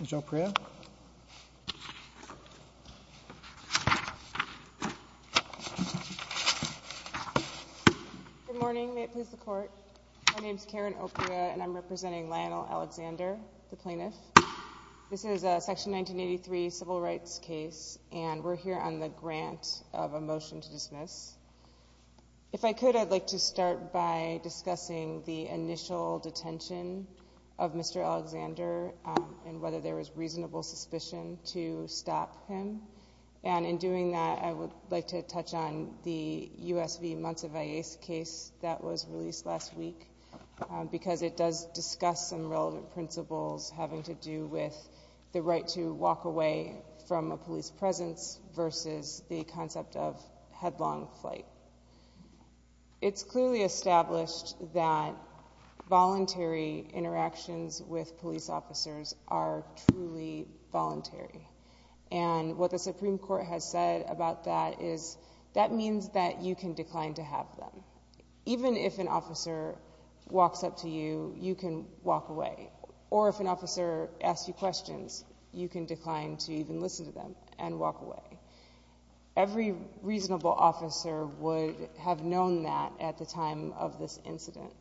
Ms. Opria. Good morning, may it please the court. My name is Karen Opria and I'm representing Lionel Alexander, the plaintiff. This is a section 1983 civil rights case and we're here on the grant of a motion to dismiss. If I could, I'd like to start by discussing the initial detention of Mr. Alexander and whether there was reasonable suspicion to stop him. And in doing that, I would like to touch on the U.S. v. Montevallis case that was released last week because it does discuss some relevant principles having to do with the right to walk away from a police presence versus the concept of headlong flight. It's clearly established that voluntary interactions with police officers are truly voluntary. And what the Supreme Court has said about that is that means that you can decline to have them. Even if an officer walks up to you, you can walk away. Or if an officer asks you questions, you can decline to even listen to them and walk away. Every reasonable officer would have known that at the time of this incident.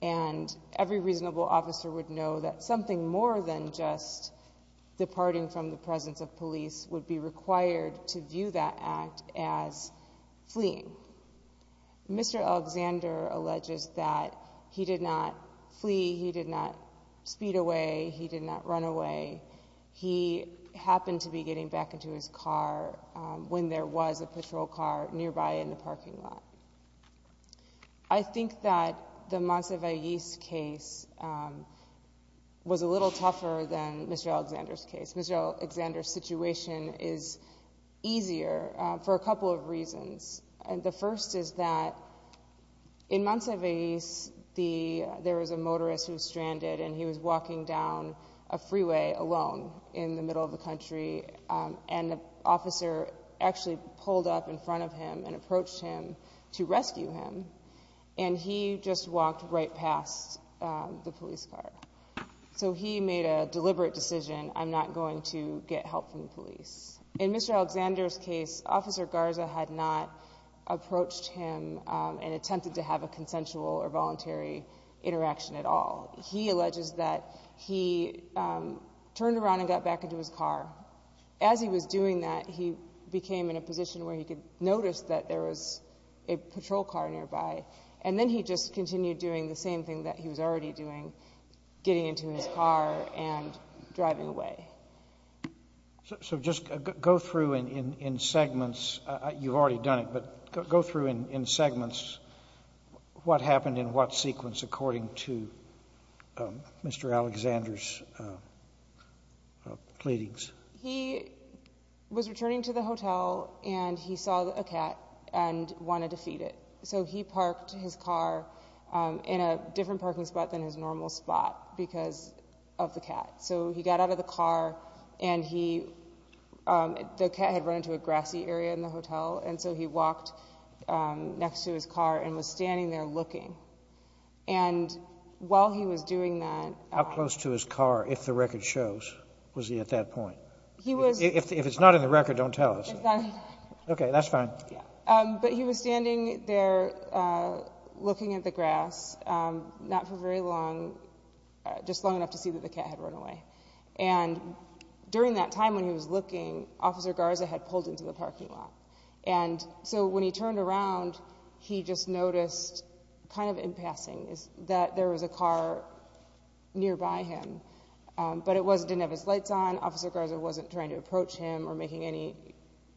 And every reasonable officer would know that something more than just departing from the presence of police would be required to view that act as fleeing. Mr. Alexander alleges that he did not flee, he did not speed away, he did not run away. He happened to be getting back into his car when there was a patrol car nearby in the parking lot. I think that the Montevallis case was a little tougher than Mr. Alexander's case. Mr. Alexander's situation is easier for a couple of reasons. The first is that in Montevallis, there was a motorist who was stranded and he was walking down a freeway alone in the middle of the country. And the officer actually pulled up in front of him and approached him to rescue him. And he just walked right past the police car. So he made a deliberate decision, I'm not going to get help from the police. In Mr. Alexander's case, Officer Garza had not approached him and attempted to have a consensual or voluntary interaction at all. He alleges that he turned around and got back into his car. As he was doing that, he became in a position where he could notice that there was a patrol car nearby. And then he just continued doing the same thing that he was already doing, getting into his car and driving away. So just go through in segments, you've according to Mr. Alexander's pleadings. He was returning to the hotel and he saw a cat and wanted to feed it. So he parked his car in a different parking spot than his normal spot because of the cat. So he got out of the car and he, the cat had run into a grassy area in the hotel. And so he walked next to his car and was standing there looking. And while he was doing that. How close to his car, if the record shows, was he at that point? He was. If it's not in the record, don't tell us. OK, that's fine. But he was standing there looking at the grass, not for very long, just long enough to see that the cat had run away. And during that time when he was looking, Officer Garza had pulled into the parking lot. And so when he turned around, he just noticed, kind of in passing, that there was a car nearby him. But it didn't have his lights on. Officer Garza wasn't trying to approach him or making any,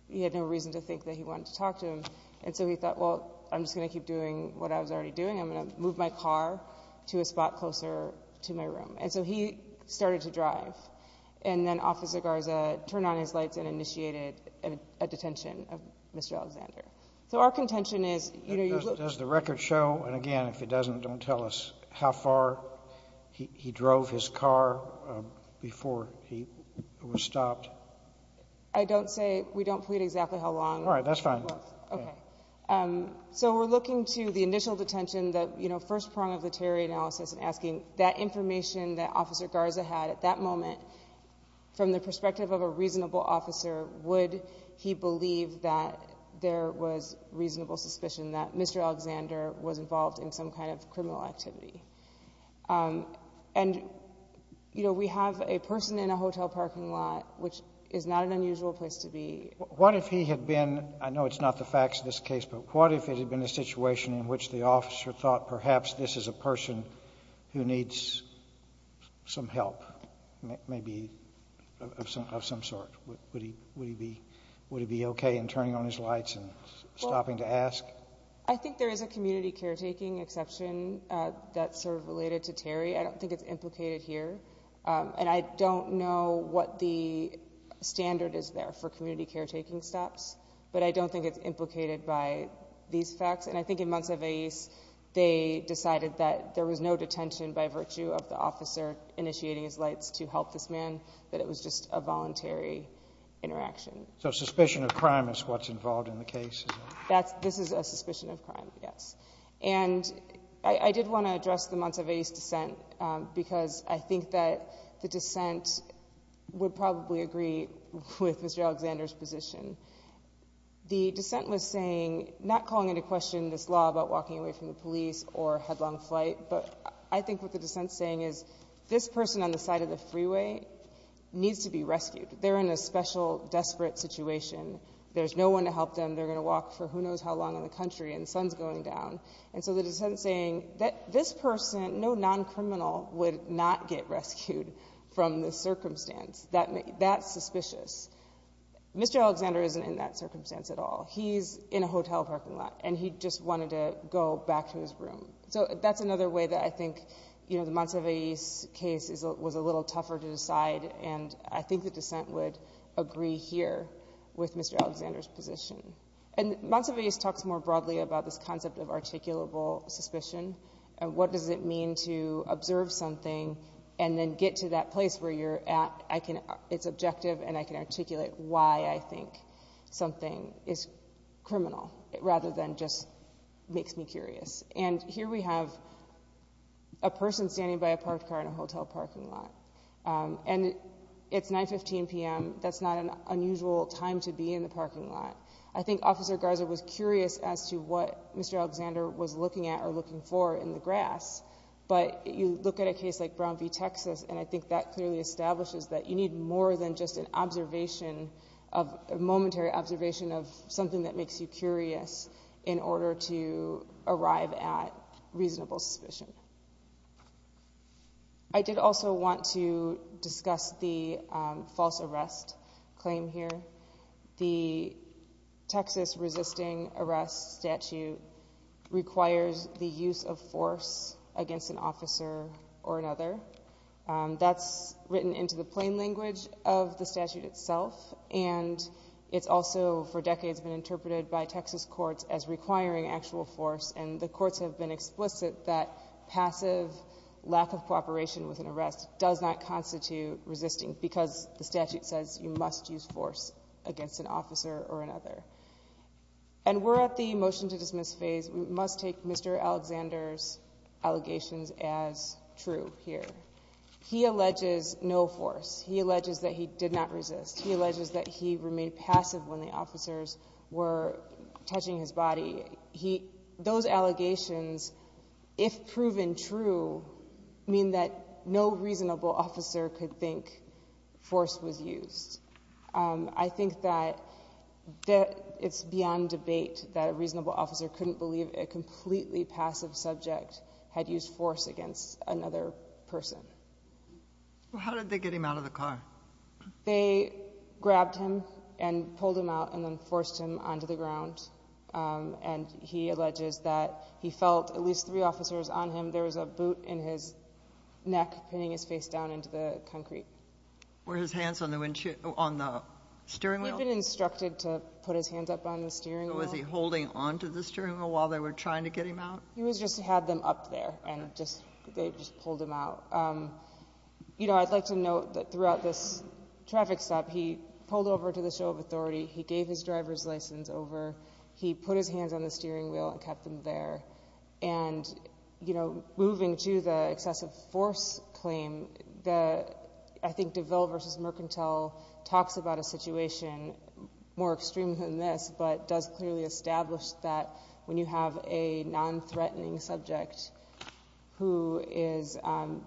he had no reason to think that he wanted to talk to him. And so he thought, well, I'm just going to keep doing what I was already doing. I'm going to move my car to a spot closer to my room. And so he started to drive. And then Officer Garza turned on his lights and initiated a detention of Mr. Alexander. So our contention is, you know, does the record show? And again, if it doesn't, don't tell us how far he drove his car before he was stopped. I don't say we don't plead exactly how long. All right, that's fine. OK. So we're looking to the initial detention that, you know, first prong of the asking that information that Officer Garza had at that moment, from the perspective of a reasonable officer, would he believe that there was reasonable suspicion that Mr. Alexander was involved in some kind of criminal activity? And, you know, we have a person in a hotel parking lot, which is not an unusual place to be. What if he had been, I know it's not the facts of this case, but what if it had been a situation in which the officer thought perhaps this is a person who needs some help, maybe of some sort? Would he be OK in turning on his lights and stopping to ask? Well, I think there is a community caretaking exception that's sort of related to Terry. I don't think it's implicated here. And I don't know what the standard is there for community caretaking stops. But I don't think it's implicated by these facts. And I think in Montsevier's, they decided that there was no detention by virtue of the officer initiating his lights to help this man, that it was just a voluntary interaction. So suspicion of crime is what's involved in the case. That's this is a suspicion of crime. Yes. And I did want to address the Montsevier's dissent because I think that the dissent would probably agree with Mr. Alexander's position. The dissent was saying, not calling into question this law about walking away from the police or headlong flight, but I think what the dissent is saying is this person on the side of the freeway needs to be rescued. They're in a special, desperate situation. There's no one to help them. They're going to walk for who knows how long in the country and the sun's going down. And so the person needs to be rescued from this circumstance. That's suspicious. Mr. Alexander isn't in that circumstance at all. He's in a hotel parking lot and he just wanted to go back to his room. So that's another way that I think the Montsevier's case was a little tougher to decide. And I think the dissent would agree here with Mr. Alexander's position. And Montsevier's talks more broadly about this concept of articulable suspicion and what does it mean to observe something and then get to that place where you're at. It's objective and I can articulate why I think something is criminal, rather than just makes me curious. And here we have a person standing by a parked car in a hotel parking lot. And it's 9.15 p.m. That's not an unusual time to be in the parking lot. I think Officer Garza was curious as to what a case like Brown v. Texas, and I think that clearly establishes that you need more than just an observation, a momentary observation of something that makes you curious in order to arrive at reasonable suspicion. I did also want to discuss the false arrest claim here. The Texas resisting arrest statute requires the use of force against an officer or another. That's written into the plain language of the statute itself. And it's also for decades been interpreted by Texas courts as requiring actual force. And the courts have been explicit that passive lack of cooperation with an arrest does not constitute resisting because the an officer or another. And we're at the motion to dismiss phase. We must take Mr. Alexander's allegations as true here. He alleges no force. He alleges that he did not resist. He alleges that he remained passive when the officers were touching his body. Those allegations, if proven true, mean that no reasonable officer could think force was used. I think that it's beyond debate that a reasonable officer couldn't believe a completely passive subject had used force against another person. How did they get him out of the car? They grabbed him and then forced him onto the ground. And he alleges that he felt at least three officers on him. There was a boot in his neck, pinning his face down into the concrete. Were his hands on the windshield, on the steering wheel? He'd been instructed to put his hands up on the steering wheel. Was he holding onto the steering wheel while they were trying to get him out? He was just to have them up there and just, they just pulled him out. You know, I'd like to note that this traffic stop, he pulled over to the show of authority. He gave his driver's license over. He put his hands on the steering wheel and kept them there. And, you know, moving to the excessive force claim, the, I think DeVille versus Mercantile talks about a situation more extreme than this, but does clearly establish that when you have a non-threatening subject who is,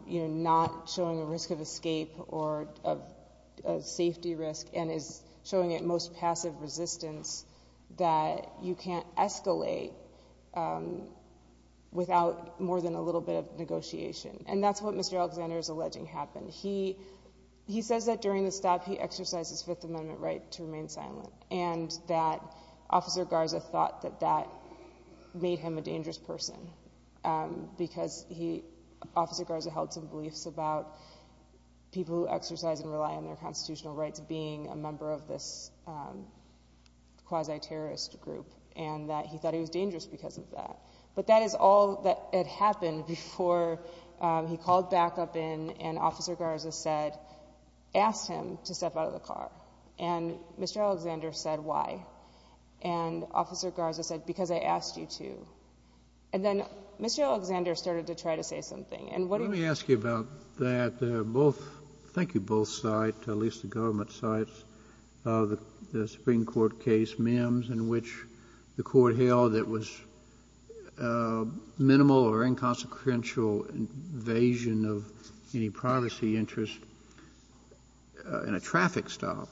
you know, not showing a risk of escape or of safety risk and is showing at most passive resistance, that you can't escalate without more than a little bit of negotiation. And that's what Mr. Alexander is alleging happened. He says that during the stop, he exercised his Fifth Amendment right to remain silent and that Officer Garza thought that that made him a dangerous person because he, Officer Garza had beliefs about people who exercise and rely on their constitutional rights being a member of this quasi-terrorist group and that he thought he was dangerous because of that. But that is all that had happened before he called back up in and Officer Garza said, asked him to step out of the car. And Mr. Alexander said, why? And Officer Garza said, because I asked you to. And then Mr. Alexander started to try to say something. And what do you think? Kennedy, let me ask you about that. Both — thank you, both sides, at least the government sides of the Supreme Court case Mims, in which the Court held it was minimal or inconsequential invasion of any privacy interest in a traffic stop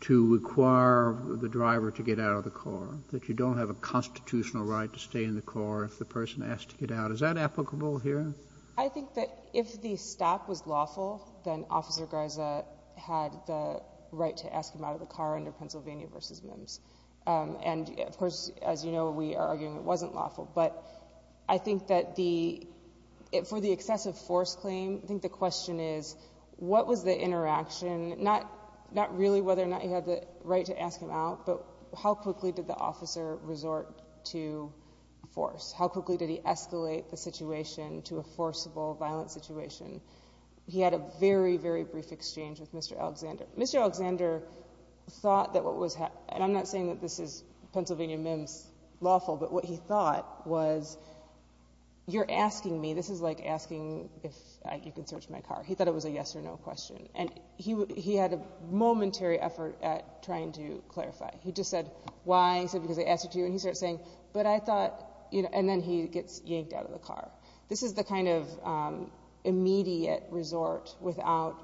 to require the driver to get out of the car, that you don't have a constitutional right to stay in the car if the person asked to get out. Is that applicable here? I think that if the stop was lawful, then Officer Garza had the right to ask him out of the car under Pennsylvania v. Mims. And, of course, as you know, we are arguing it wasn't lawful. But I think that the — for the excessive force claim, I think the question is what was the interaction, not really whether or not he had the right to ask him out, but how quickly did the officer resort to force? How quickly did he escalate the situation to a forcible, violent situation? He had a very, very brief exchange with Mr. Alexander. Mr. Alexander thought that what was — and I'm not saying that this is Pennsylvania Mims lawful, but what he thought was, you're asking me, this is like asking if you can search my car. He thought it was a yes or no question. And he had a momentary effort at trying to clarify. He just said, why? He said, because I asked you to. And he started saying, but I thought — and then he gets yanked out of the car. This is the kind of immediate resort without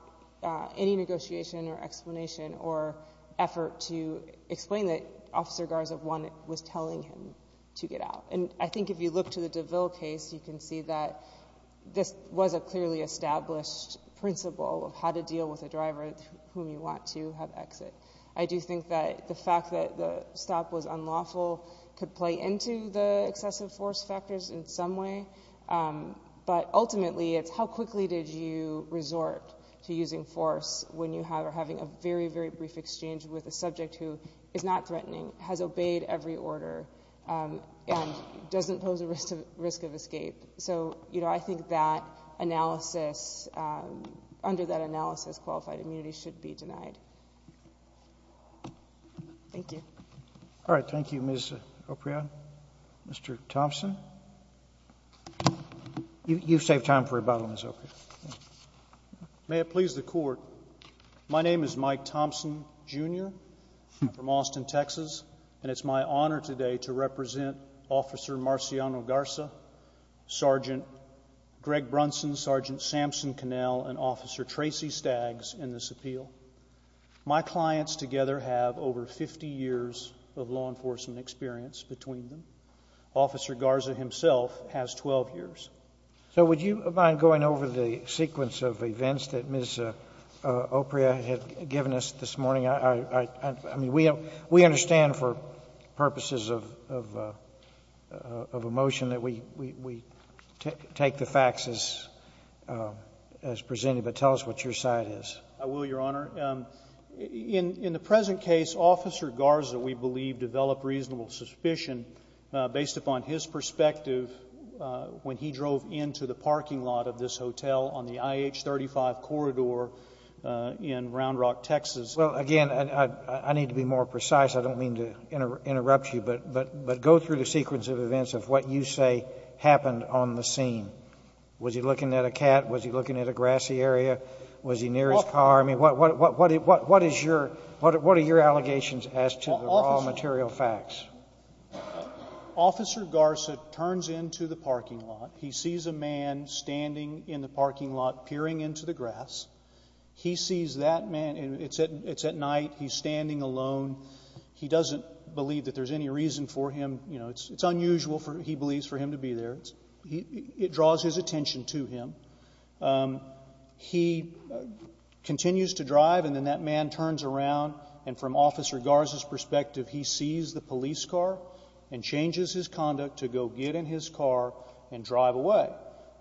any negotiation or explanation or effort to explain that Officer Garza was telling him to get out. And I think if you look to the DeVille case, you can see that this was a clearly established principle of how to deal with a driver whom you want to have exit. I do think that the fact that the stop was unlawful could play into the excessive force factors in some way. But ultimately, it's how quickly did you resort to using force when you are having a very, very brief exchange with a subject who is not threatening, has obeyed every order, and doesn't pose a risk of escape. So, you know, I think that analysis — under that analysis, qualified immunity should be denied. Thank you. All right. Thank you, Ms. Oprion. Mr. Thompson? You saved time for rebuttal, Ms. Oprion. May it please the Court, my name is Mike Thompson, Jr. I'm from Austin, Texas. And it's my honor today to represent Officer Marciano Garza, Sergeant Greg Brunson, Sergeant Samson Connell, and Officer Tracy Staggs in this appeal. My clients together have over 50 years of law enforcement experience between them. Officer Garza himself has 12 years. So would you mind going over the sequence of events that Ms. Oprion had given us this morning in terms of a motion that we take the facts as presented, but tell us what your side is. I will, Your Honor. In the present case, Officer Garza, we believe, developed reasonable suspicion based upon his perspective when he drove into the parking lot of this hotel on the IH35 corridor in Round Rock, Texas. Well, again, I need to be more precise. I don't mean to interrupt you, but I think you need to go through the sequence of events of what you say happened on the scene. Was he looking at a cat? Was he looking at a grassy area? Was he near his car? I mean, what are your allegations as to the raw material facts? Officer Garza turns into the parking lot. He sees a man standing in the parking lot, peering into the grass. He sees that man and it's at night. He's standing alone. He doesn't believe that there's any reason for him, you know, it's unusual, he believes, for him to be there. It draws his attention to him. He continues to drive, and then that man turns around, and from Officer Garza's perspective, he sees the police car and changes his conduct to go get in his car and drive away.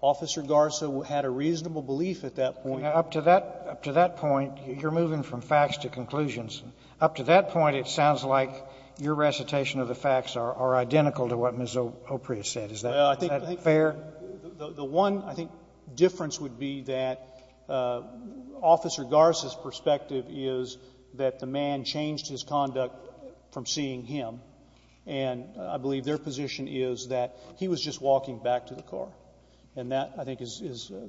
Officer Garza had a reasonable belief at that point. Up to that point, you're moving from facts to conclusions. Up to that point, it sounds like your recitation of the facts are identical to what Ms. O'Priest said. Is that fair? The one, I think, difference would be that Officer Garza's perspective is that the man changed his conduct from seeing him. And I believe their position is that he was just walking back to the car. And that, I think, is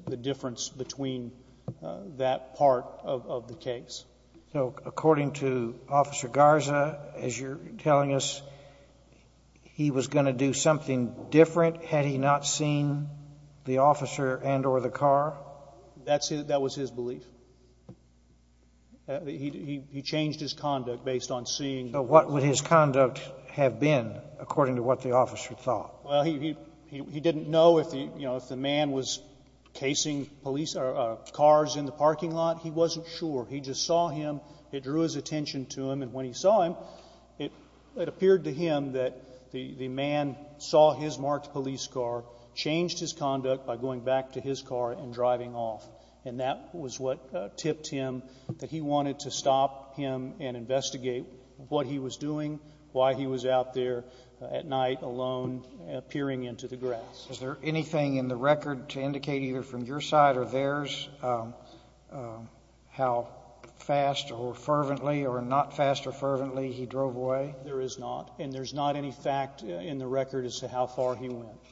the difference between that part of the case. So according to Officer Garza, as you're telling us, he was going to do something different had he not seen the officer and or the car? That's his, that was his belief. He changed his conduct based on seeing. But what would his conduct have been, according to what the officer thought? Well, he didn't know if the man was casing police cars in the parking lot. He wasn't sure. He just saw him. It drew his attention to him. And when he saw him, it appeared to him that the man saw his marked police car, changed his conduct by going back to his car and driving off. And that was what tipped him that he wanted to stop him and appearing into the grass. Is there anything in the record to indicate either from your side or theirs how fast or fervently or not fast or fervently he drove away? There is not. And there's not any fact in the record as to how far he went.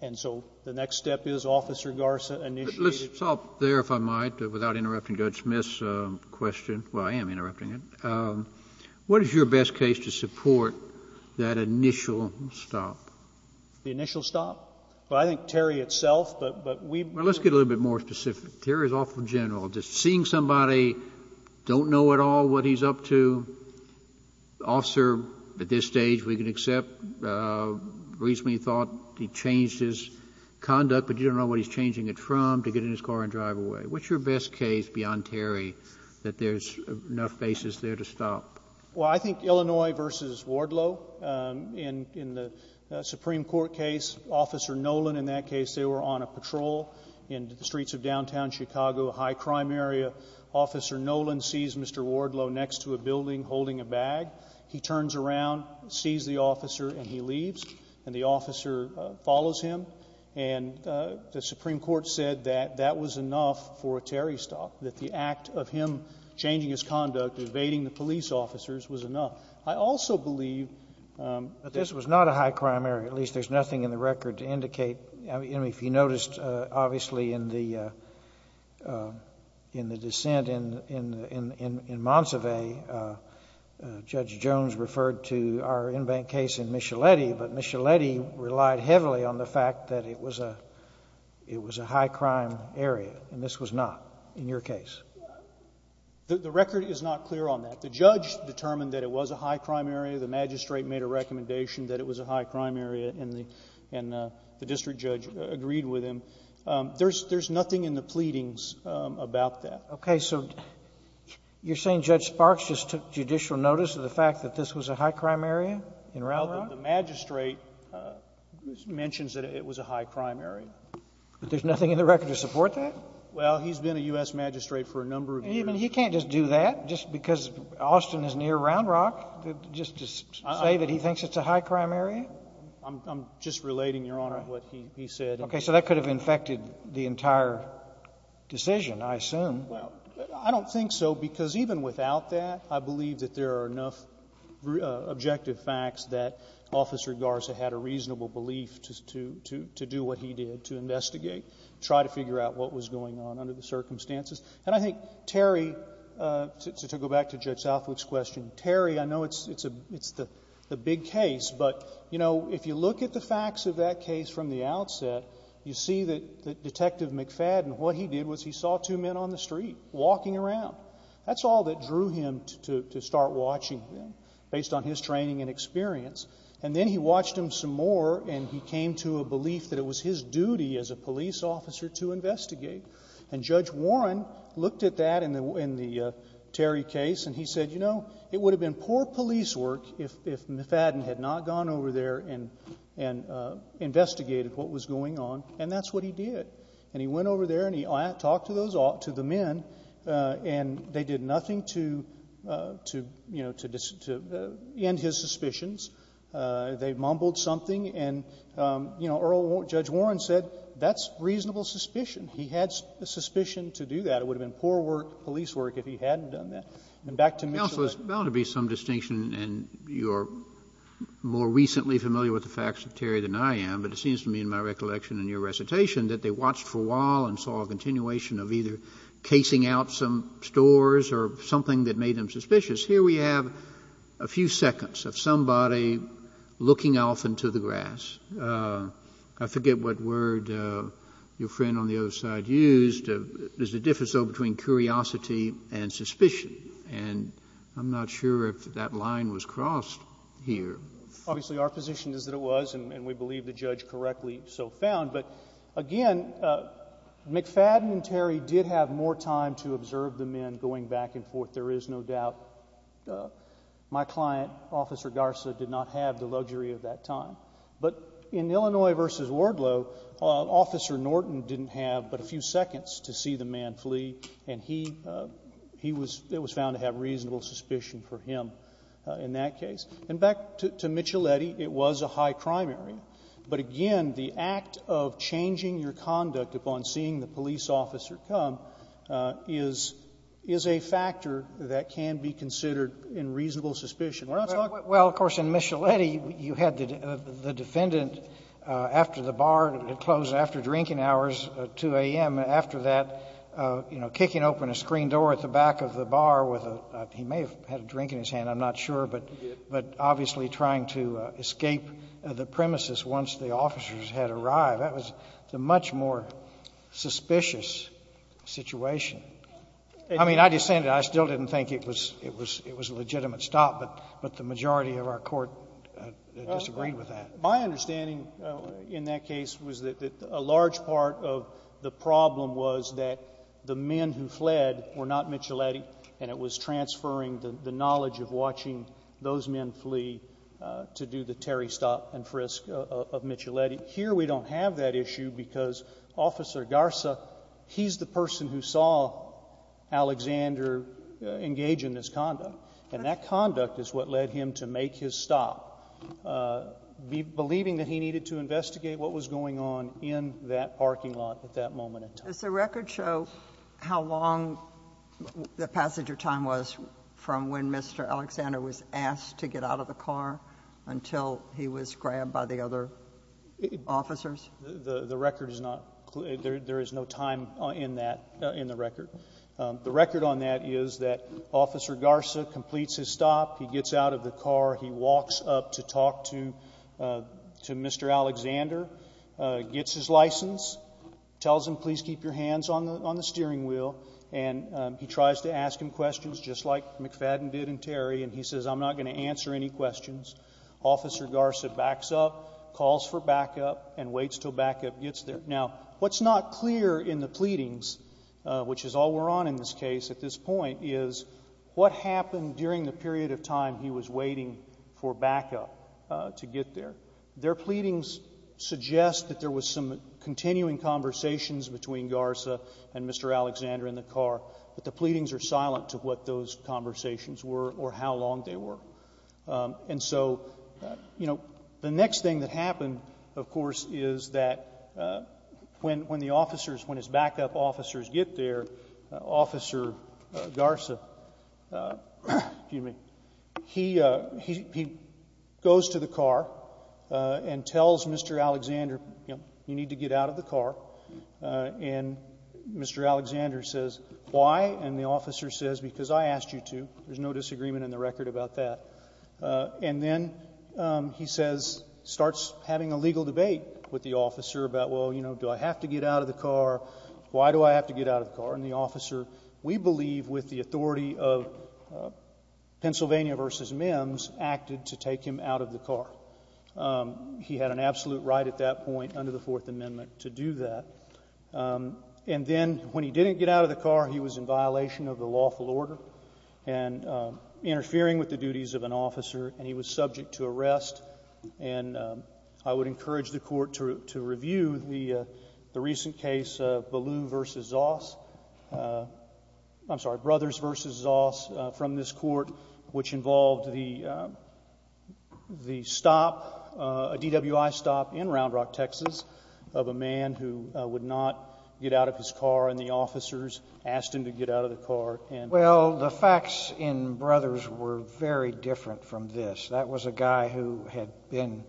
And so the next step is Officer Garza initiated. Let's stop there, if I might, without interrupting Judge Smith's question. Well, I am interrupting it. What is your best case to support that initial stop? The initial stop? Well, I think Terry itself, but we've been Well, let's get a little bit more specific. Terry is awful general. Just seeing somebody, don't know at all what he's up to, the officer at this stage we can accept reasonably thought he changed his conduct, but you don't know what he's changing it from to get in his car and drive away. What's your best case beyond Terry that there's enough basis there to stop? Well, I think Illinois versus Wardlow. In the Supreme Court case, Officer Nolan in that case, they were on a patrol in the streets of downtown Chicago, a high crime area. Officer Nolan sees Mr. Wardlow next to a building holding a bag. He turns around, sees the officer, and he leaves. And the officer follows him. And the Supreme Court said that that was enough for a Terry stop, that the act of him changing his conduct, evading the police officers was enough. I also believe that this was not a high crime area. At least there's nothing in the record to indicate. I mean, if you noticed, obviously, in the dissent in Monsivais, Judge Jones referred to our in-bank case in Micheletti, but Micheletti relied heavily on the fact that it was a high crime area, and this was not in your case. The record is not clear on that. The judge determined that it was a high crime area. The magistrate made a recommendation that it was a high crime area, and the district judge agreed with him. There's nothing in the pleadings about that. Okay. So you're saying Judge Sparks just took judicial notice of the fact that this was a high crime area in Round Rock? Well, the magistrate mentions that it was a high crime area. But there's nothing in the record to support that? Well, he's been a U.S. magistrate for a number of years. He can't just do that just because Austin is near Round Rock, just to say that he thinks it's a high crime area? I'm just relating, Your Honor, what he said. Okay. So that could have infected the entire decision, I assume. Well, I don't think so, because even without that, I believe that there are enough objective facts that Officer Garza had a reasonable belief to do what he did, to investigate, try to figure out what was going on under the circumstances. And I think Terry, to go back to Judge Southwick's question, Terry, I know it's the big case, but if you look at the facts of that case from the outset, you see that Detective McFadden, what he did was he saw two men on the street walking around. That's all that drew him to start watching them, based on his training and experience. And then he watched them some more, and he came to a belief that it was his duty as a police officer to investigate. And Judge Warren looked at that in the Terry case, and he said, you know, it would have been poor police work if McFadden had not gone over there and investigated what was going on, and that's what he did. And he went over there and he talked to those men, and they did nothing to, you know, to end his suspicions. They mumbled something, and, you know, Earl Judge Warren said, that's reasonable suspicion. He had suspicion to do that. It would have been poor work, police work, if he hadn't done that. And back to Mitchell. Kennedy, it's bound to be some distinction, and you're more recently familiar with the facts of Terry than I am, but it seems to me in my recollection in your recitation that they watched for a while and saw a continuation of either casing out some stores or something that made them suspicious. Here we have a few seconds of somebody looking off into the grass. I forget what word your friend on the other side used. There's a difference, though, between curiosity and suspicion, and I'm not sure if that line was crossed here. Obviously, our position is that it was, and we believe the judge correctly so found. But again, McFadden and Terry did have more time to observe the men going back and forth. There is no doubt. My client, Officer Garza, did not have the luxury of that time. But in Illinois v. Wardlow, Officer Norton didn't have but a few seconds to see the man flee, and he was found to have reasonable suspicion for him in that case. And back to Micheletti, it was a high-crime area. But again, the act of changing your conduct upon seeing the police officer come is a factor that can be considered in reasonable suspicion. Where else, Dr. Kennedy? Well, of course, in Micheletti, you had the defendant after the bar, it closed after drinking hours at 2 a.m., and after that, you know, kicking open a screen door at the back of the bar with a — he may have had a drink in his hand, I'm not sure, but obviously trying to escape the premises once the officers had arrived. That was a much more suspicious situation. I mean, I just said it. I still didn't think it was a legitimate stop, but the majority of our Court disagreed with that. My understanding in that case was that a large part of the problem was that the men who fled were not Micheletti, and it was transferring the knowledge of watching those men flee to do the Terry stop and frisk of Micheletti. Here we don't have that issue because Officer Garza, he's the person who saw Alexander engage in this conduct, and that conduct is what led him to make his stop, believing that he needed to investigate what was going on in that parking lot at that moment in time. Does the record show how long the passenger time was from when Mr. Alexander was asked to get out of the car until he was grabbed by the other officers? The record is not — there is no time in that — in the record. The record on that is that Officer Garza completes his stop. He gets out of the car. He walks up to talk to Mr. Alexander, gets his license, tells him, please keep your hands on the steering wheel, and he tries to ask him questions just like McFadden did in Terry, and he says, I'm not going to answer any questions. Officer Garza backs up, calls for backup, and waits until backup gets there. Now, what's not clear in the pleadings, which is all we're on in this case at this point, is what happened during the period of time he was waiting for backup to get there. Their pleadings suggest that there was some continuing conversations between Garza and Mr. Alexander in the car, but the pleadings are silent to what those conversations were or how long they were. And so, you know, the next thing that happened, of course, is that when the officers, when his backup officers get there, Officer Garza — excuse me — he goes to the car, and tells Mr. Alexander, you know, you need to get out of the car. And Mr. Alexander says, why? And the officer says, because I asked you to. There's no disagreement in the record about that. And then he says, starts having a legal debate with the officer about, well, you know, do I have to get out of the car? Why do I have to get out of the car? And the officer, we believe, with the authority of Pennsylvania v. Mims, acted to take him out of the car. He had an absolute right at that point under the Fourth Amendment to do that. And then, when he didn't get out of the car, he was in violation of the lawful order and interfering with the duties of an officer, and he was subject to arrest. And I would encourage the Court to review the recent case of Ballou v. Zoss — I'm The stop — a DWI stop in Round Rock, Texas, of a man who would not get out of his car, and the officers asked him to get out of the car and — Well, the facts in Brothers were very different from this. That was a guy who had been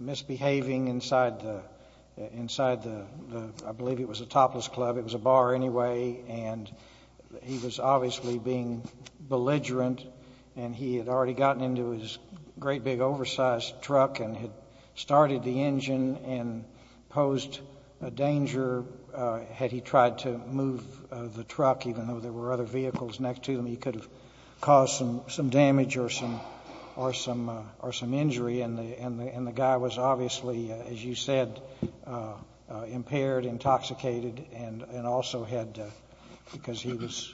misbehaving inside the — inside the — I believe it was a topless club. It was a bar anyway. And he was obviously being belligerent, and he had already gotten into his great big oversized truck and had started the engine and posed a danger had he tried to move the truck, even though there were other vehicles next to him. He could have caused some — some damage or some — or some — or some injury. And the — and the guy was obviously, as you said, impaired, intoxicated, and — and also had, because he was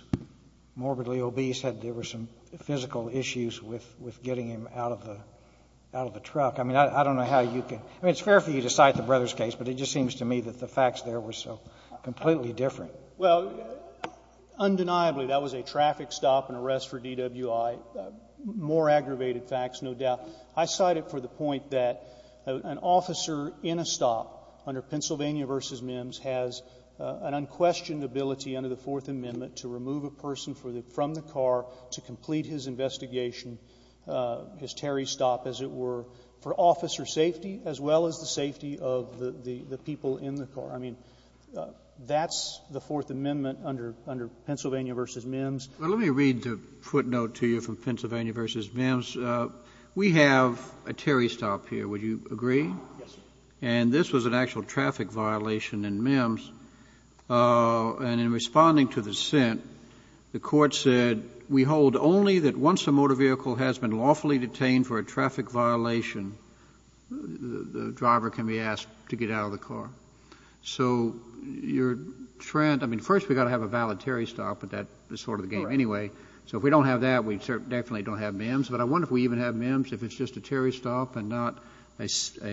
morbidly obese, had — there were some physical issues with — with getting him out of the — out of the truck. I mean, I don't know how you can — I mean, it's fair for you to cite the Brothers case, but it just seems to me that the facts there were so completely different. Well, undeniably, that was a traffic stop and arrest for DWI. More aggravated facts, no doubt. I cite it for the point that an officer in a stop under Pennsylvania v. MIMS has an unquestioned ability under the Fourth Amendment to remove a person from the car to complete his investigation, his Terry stop, as it were, for officer safety, as well as the safety of the — the people in the car. I mean, that's the Fourth Amendment under — under Pennsylvania v. MIMS. Well, let me read the footnote to you from Pennsylvania v. MIMS. We have a Terry stop here. Would you agree? Yes, sir. And this was an actual traffic violation in MIMS. And in responding to the sent, the Court said, we hold only that once a motor vehicle has been lawfully detained for a traffic violation, the driver can be asked to get out of the car. So your trend — I mean, first, we've got to have a valid Terry stop, but that is sort of the game anyway. So if we don't have that, we certainly don't have MIMS, but I wonder if we even have MIMS if it's just a Terry stop and not a — I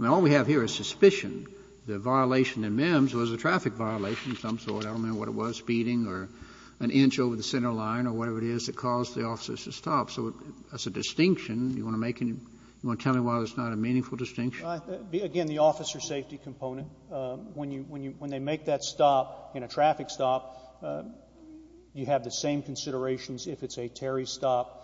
mean, all we have here is suspicion. The violation in MIMS was a traffic violation of some sort. I don't know what it was, speeding or an inch over the center line or whatever it is that caused the officers to stop. So as a distinction, you want to make any — you want to tell me why it's not a meaningful distinction? Again, the officer safety component, when you — when they make that stop in a traffic stop, you have the same considerations if it's a Terry stop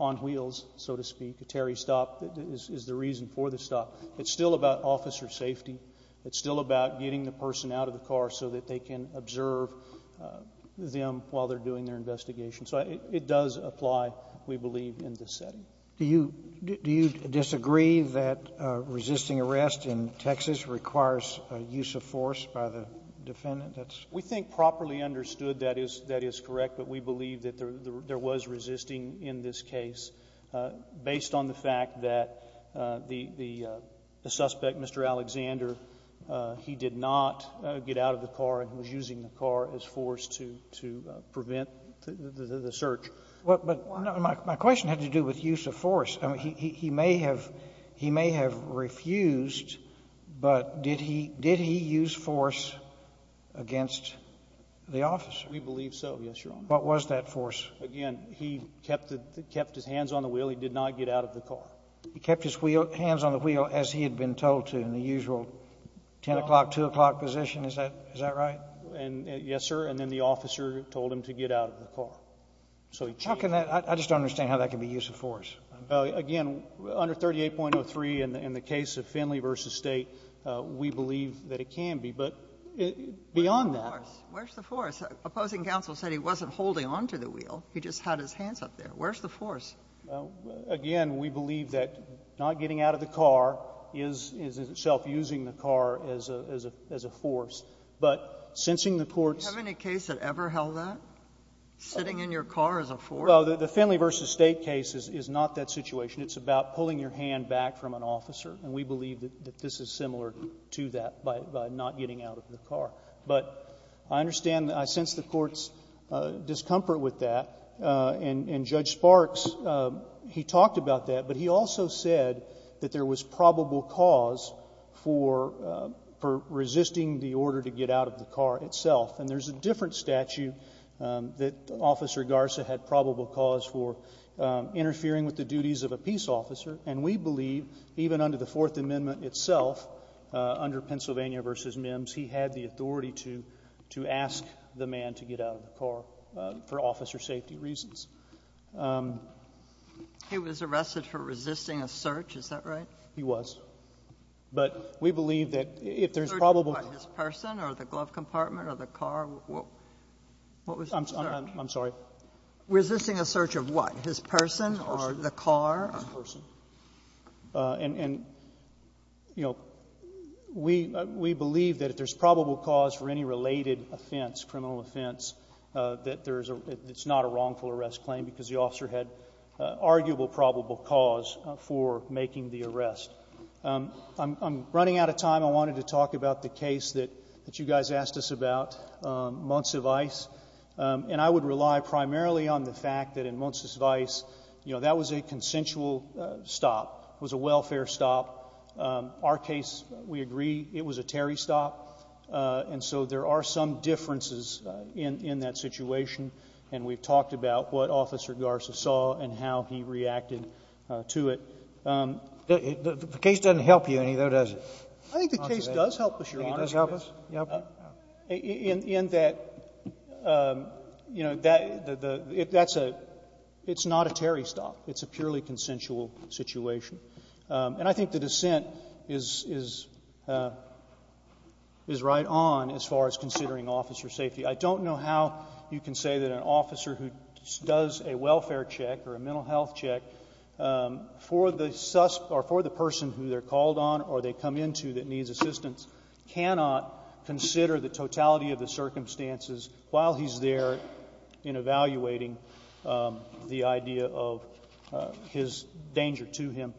on wheels, so to speak. A Terry stop is the reason for the stop. It's still about officer safety. It's still about getting the person out of the car so that they can observe them while they're doing their investigation. So it does apply, we believe, in this setting. Do you disagree that resisting arrest in Texas requires a use of force by the defendant? We think properly understood that is correct, but we believe that there was resisting in this case based on the fact that the suspect, Mr. Alexander, he did not get out of the car and was using the car as force to prevent the search. But my question had to do with use of force. I mean, he may have — he may have refused, but did he use force against the officer? We believe so, yes, Your Honor. What was that force? Again, he kept his hands on the wheel. He did not get out of the car. He kept his hands on the wheel as he had been told to in the usual 10 o'clock, 2 o'clock position. Is that right? Yes, sir. And then the officer told him to get out of the car. How can that — I just don't understand how that can be use of force. Again, under 38.03 in the case of Finley v. State, we believe that it can be. But beyond that — Where's the force? Where's the force? Opposing counsel said he wasn't holding on to the wheel. He just had his hands up there. Where's the force? Again, we believe that not getting out of the car is itself using the car as a force. But sensing the court's — Do you have any case that ever held that, sitting in your car as a force? Well, the Finley v. State case is not that situation. It's about pulling your hand back from an officer. And we believe that this is similar to that by not getting out of the car. But I understand — I sense the court's discomfort with that. And Judge Sparks, he talked about that. But he also said that there was probable cause for resisting the order to get out of the car itself. And there's a different statute that Officer Garza had probable cause for interfering with the duties of a peace officer. And we believe, even under the Fourth Amendment itself, under Pennsylvania v. Mims, he had the authority to ask the man to get out of the car for officer safety reasons. He was arrested for resisting a search. Is that right? He was. But we believe that if there's probable — His person or the glove compartment or the car, what was the search? I'm sorry? Resisting a search of what? His person or the car? His person. And, you know, we believe that if there's probable cause for any related offense, criminal offense, that there's a — it's not a wrongful arrest claim because the officer had arguable probable cause for making the arrest. I'm running out of time. I wanted to talk about the case that you guys asked us about, Montsevice. And I would rely primarily on the fact that in Montsevice, you know, that was a consensual stop. It was a welfare stop. Our case, we agree, it was a Terry stop. And so there are some differences in that situation. And we've talked about what Officer Garza saw and how he reacted to it. The case doesn't help you any, though, does it? I think the case does help us, Your Honor. It does help us? Yep. In that, you know, that — that's a — it's not a Terry stop. It's a purely consensual situation. And I think the dissent is — is right on as far as considering officer safety. I don't know how you can say that an officer who does a welfare check or a mental health check for the — or for the person who they're called on or they come into that needs assistance cannot consider the totality of the circumstances while he's there in evaluating the idea of his danger to him.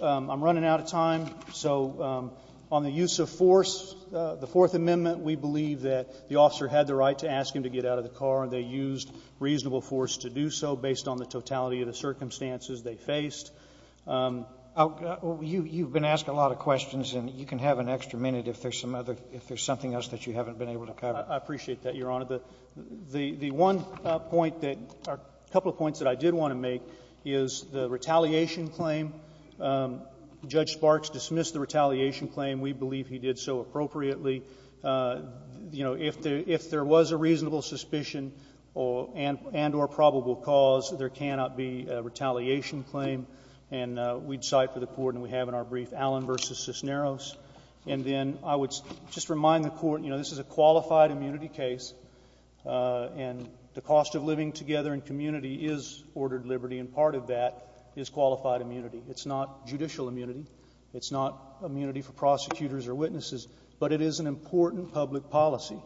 I'm running out of time. So on the use of force, the Fourth Amendment, we believe that the officer had the right to ask him to get out of the car, and they used reasonable force to do so based on the totality of the circumstances they faced. You've been asked a lot of questions, and you can have an extra minute if there's some other — if there's something else that you haven't been able to cover. I appreciate that, Your Honor. The one point that — a couple of points that I did want to make is the retaliation claim. Judge Sparks dismissed the retaliation claim. We believe he did so appropriately. You know, if there was a reasonable suspicion and — and or probable cause, there cannot be a retaliation claim. And we'd cite for the Court, and we have in our brief, Allen v. Cisneros. And then I would just remind the Court, you know, this is a qualified immunity case, and the cost of living together in community is ordered liberty, and part of that is qualified immunity. It's not judicial immunity. It's not immunity for prosecutors or witnesses. But it is an important public policy.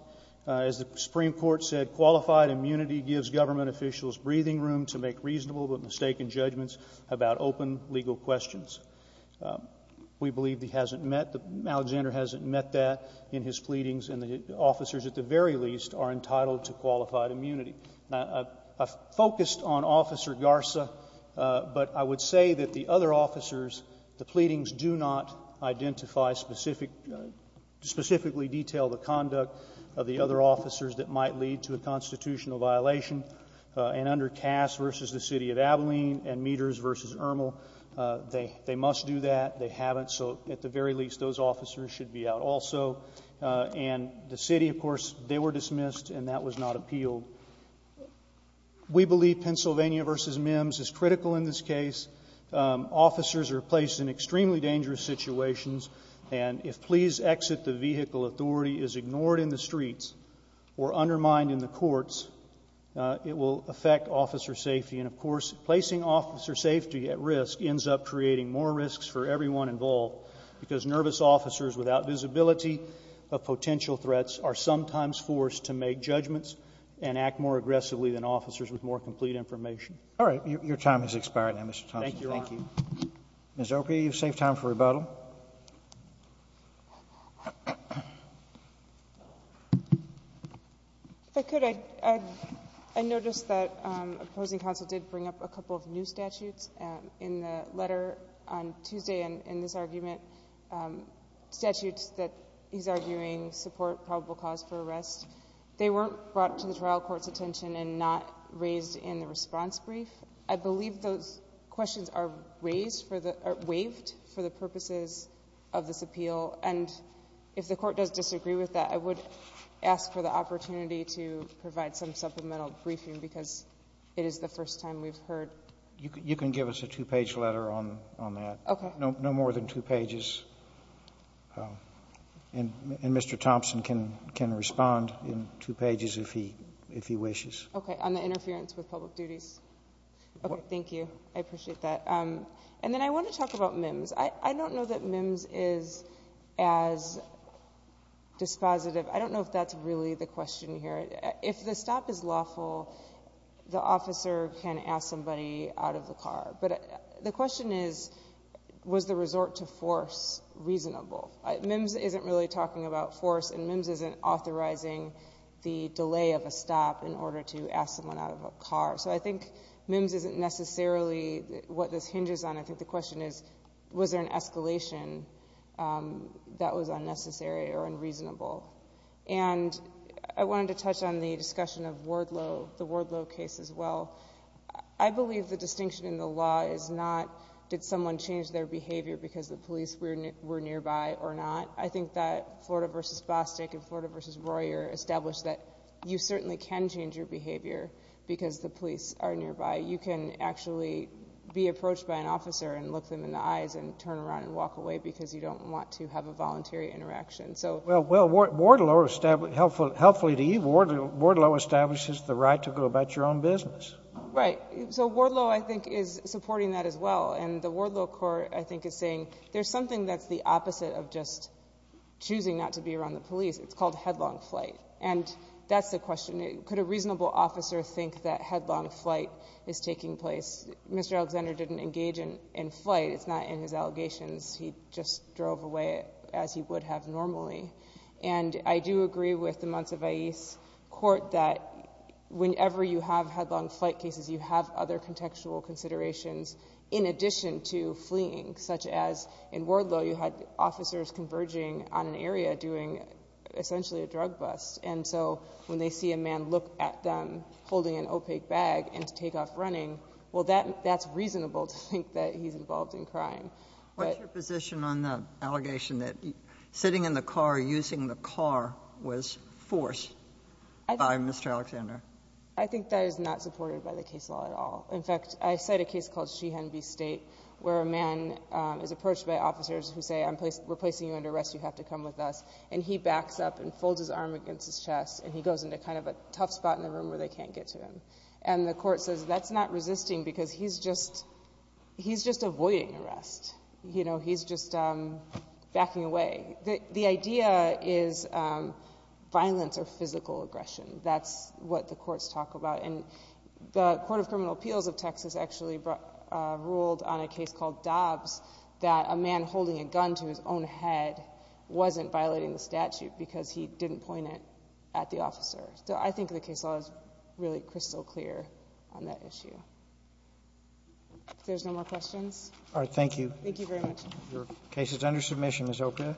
As the Supreme Court said, qualified immunity gives government officials breathing room to make reasonable but mistaken judgments about open legal questions. We believe he hasn't met — Alexander hasn't met that in his pleadings, and the officers at the very least are entitled to qualified immunity. Now, I focused on Officer Garza, but I would say that the other officers, the pleadings do not identify specific — specifically detail the conduct of the other officers that might lead to a constitutional violation. And under Cass v. the City of Abilene and Meeters v. Ermel, they must do that. They haven't, so at the very least, those officers should be out also. And the City, of course, they were dismissed, and that was not appealed. We believe Pennsylvania v. Mims is critical in this case. Officers are placed in extremely dangerous situations, and if, please, exit the vehicle authority is ignored in the streets or undermined in the courts, it will affect officer safety. And, of course, placing officer safety at risk ends up creating more risks for everyone involved, because nervous officers without visibility of potential threats are sometimes forced to make judgments and act more aggressively than officers with more complete information. All right. Your time has expired now, Mr. Thompson. Thank you, Your Honor. Thank you. Ms. O'Keefe, you've saved time for rebuttal. If I could, I noticed that opposing counsel did bring up a couple of new statutes in the letter on Tuesday in this argument, statutes that he's arguing support probable cause for arrest. They weren't brought to the trial court's attention and not raised in the response brief. I believe those questions are raised for the — waived for the purposes of this appeal. And if the Court does disagree with that, I would ask for the opportunity to provide some supplemental briefing, because it is the first time we've heard. You can give us a two-page letter on that. Okay. No more than two pages, and Mr. Thompson can respond in two pages if he wishes. Okay. On the interference with public duties. Okay. Thank you. I appreciate that. And then I want to talk about MIMS. I don't know that MIMS is as dispositive. I don't know if that's really the question here. If the stop is lawful, the officer can ask somebody out of the car. But the question is, was the resort to force reasonable? MIMS isn't really talking about force, and MIMS isn't authorizing the delay of a stop in order to ask someone out of a car. So I think MIMS isn't necessarily what this hinges on. I think the question is, was there an escalation that was unnecessary or unreasonable? And I wanted to touch on the discussion of Wardlow, the Wardlow case as well. I believe the distinction in the law is not did someone change their behavior because the police were nearby or not. I think that Florida v. Bostic and Florida v. Royer established that you certainly can change your behavior because the police are nearby. You can actually be approached by an officer and look them in the eyes and turn around and walk away because you don't want to have a voluntary interaction. So — Well, Wardlow, helpfully to you, Wardlow establishes the right to go about your own business. Right. So Wardlow, I think, is supporting that as well. And the Wardlow court, I think, is saying there's something that's the opposite of just choosing not to be around the police. It's called headlong flight. And that's the question. Could a reasonable officer think that headlong flight is taking place? Mr. Alexander didn't engage in flight. It's not in his allegations. He just drove away as he would have normally. And I do agree with the Montsevais court that whenever you have headlong flight cases, you have other contextual considerations in addition to fleeing, such as in Wardlow, you had officers converging on an area doing essentially a drug bust. And so when they see a man look at them holding an opaque bag and take off running, well, that's reasonable to think that he's involved in crime. But — What's your position on the allegation that sitting in the car or using the car was forced by Mr. Alexander? I think that is not supported by the case law at all. In fact, I cite a case called Sheehan v. State, where a man is approached by officers who say, I'm replacing you under arrest, you have to come with us. And he backs up and folds his arm against his chest, and he goes into kind of a tough spot in the room where they can't get to him. And the court says that's not resisting because he's just — he's just avoiding arrest. You know, he's just backing away. The idea is violence or physical aggression. That's what the courts talk about. And the Court of Criminal Appeals of Texas actually ruled on a case called Dobbs that a man holding a gun to his own head wasn't violating the statute because he didn't point it at the officer. So I think the case law is really crystal clear on that issue. If there's no more questions — All right. Thank you. Thank you very much. Your case is under submission, Ms. Oprah.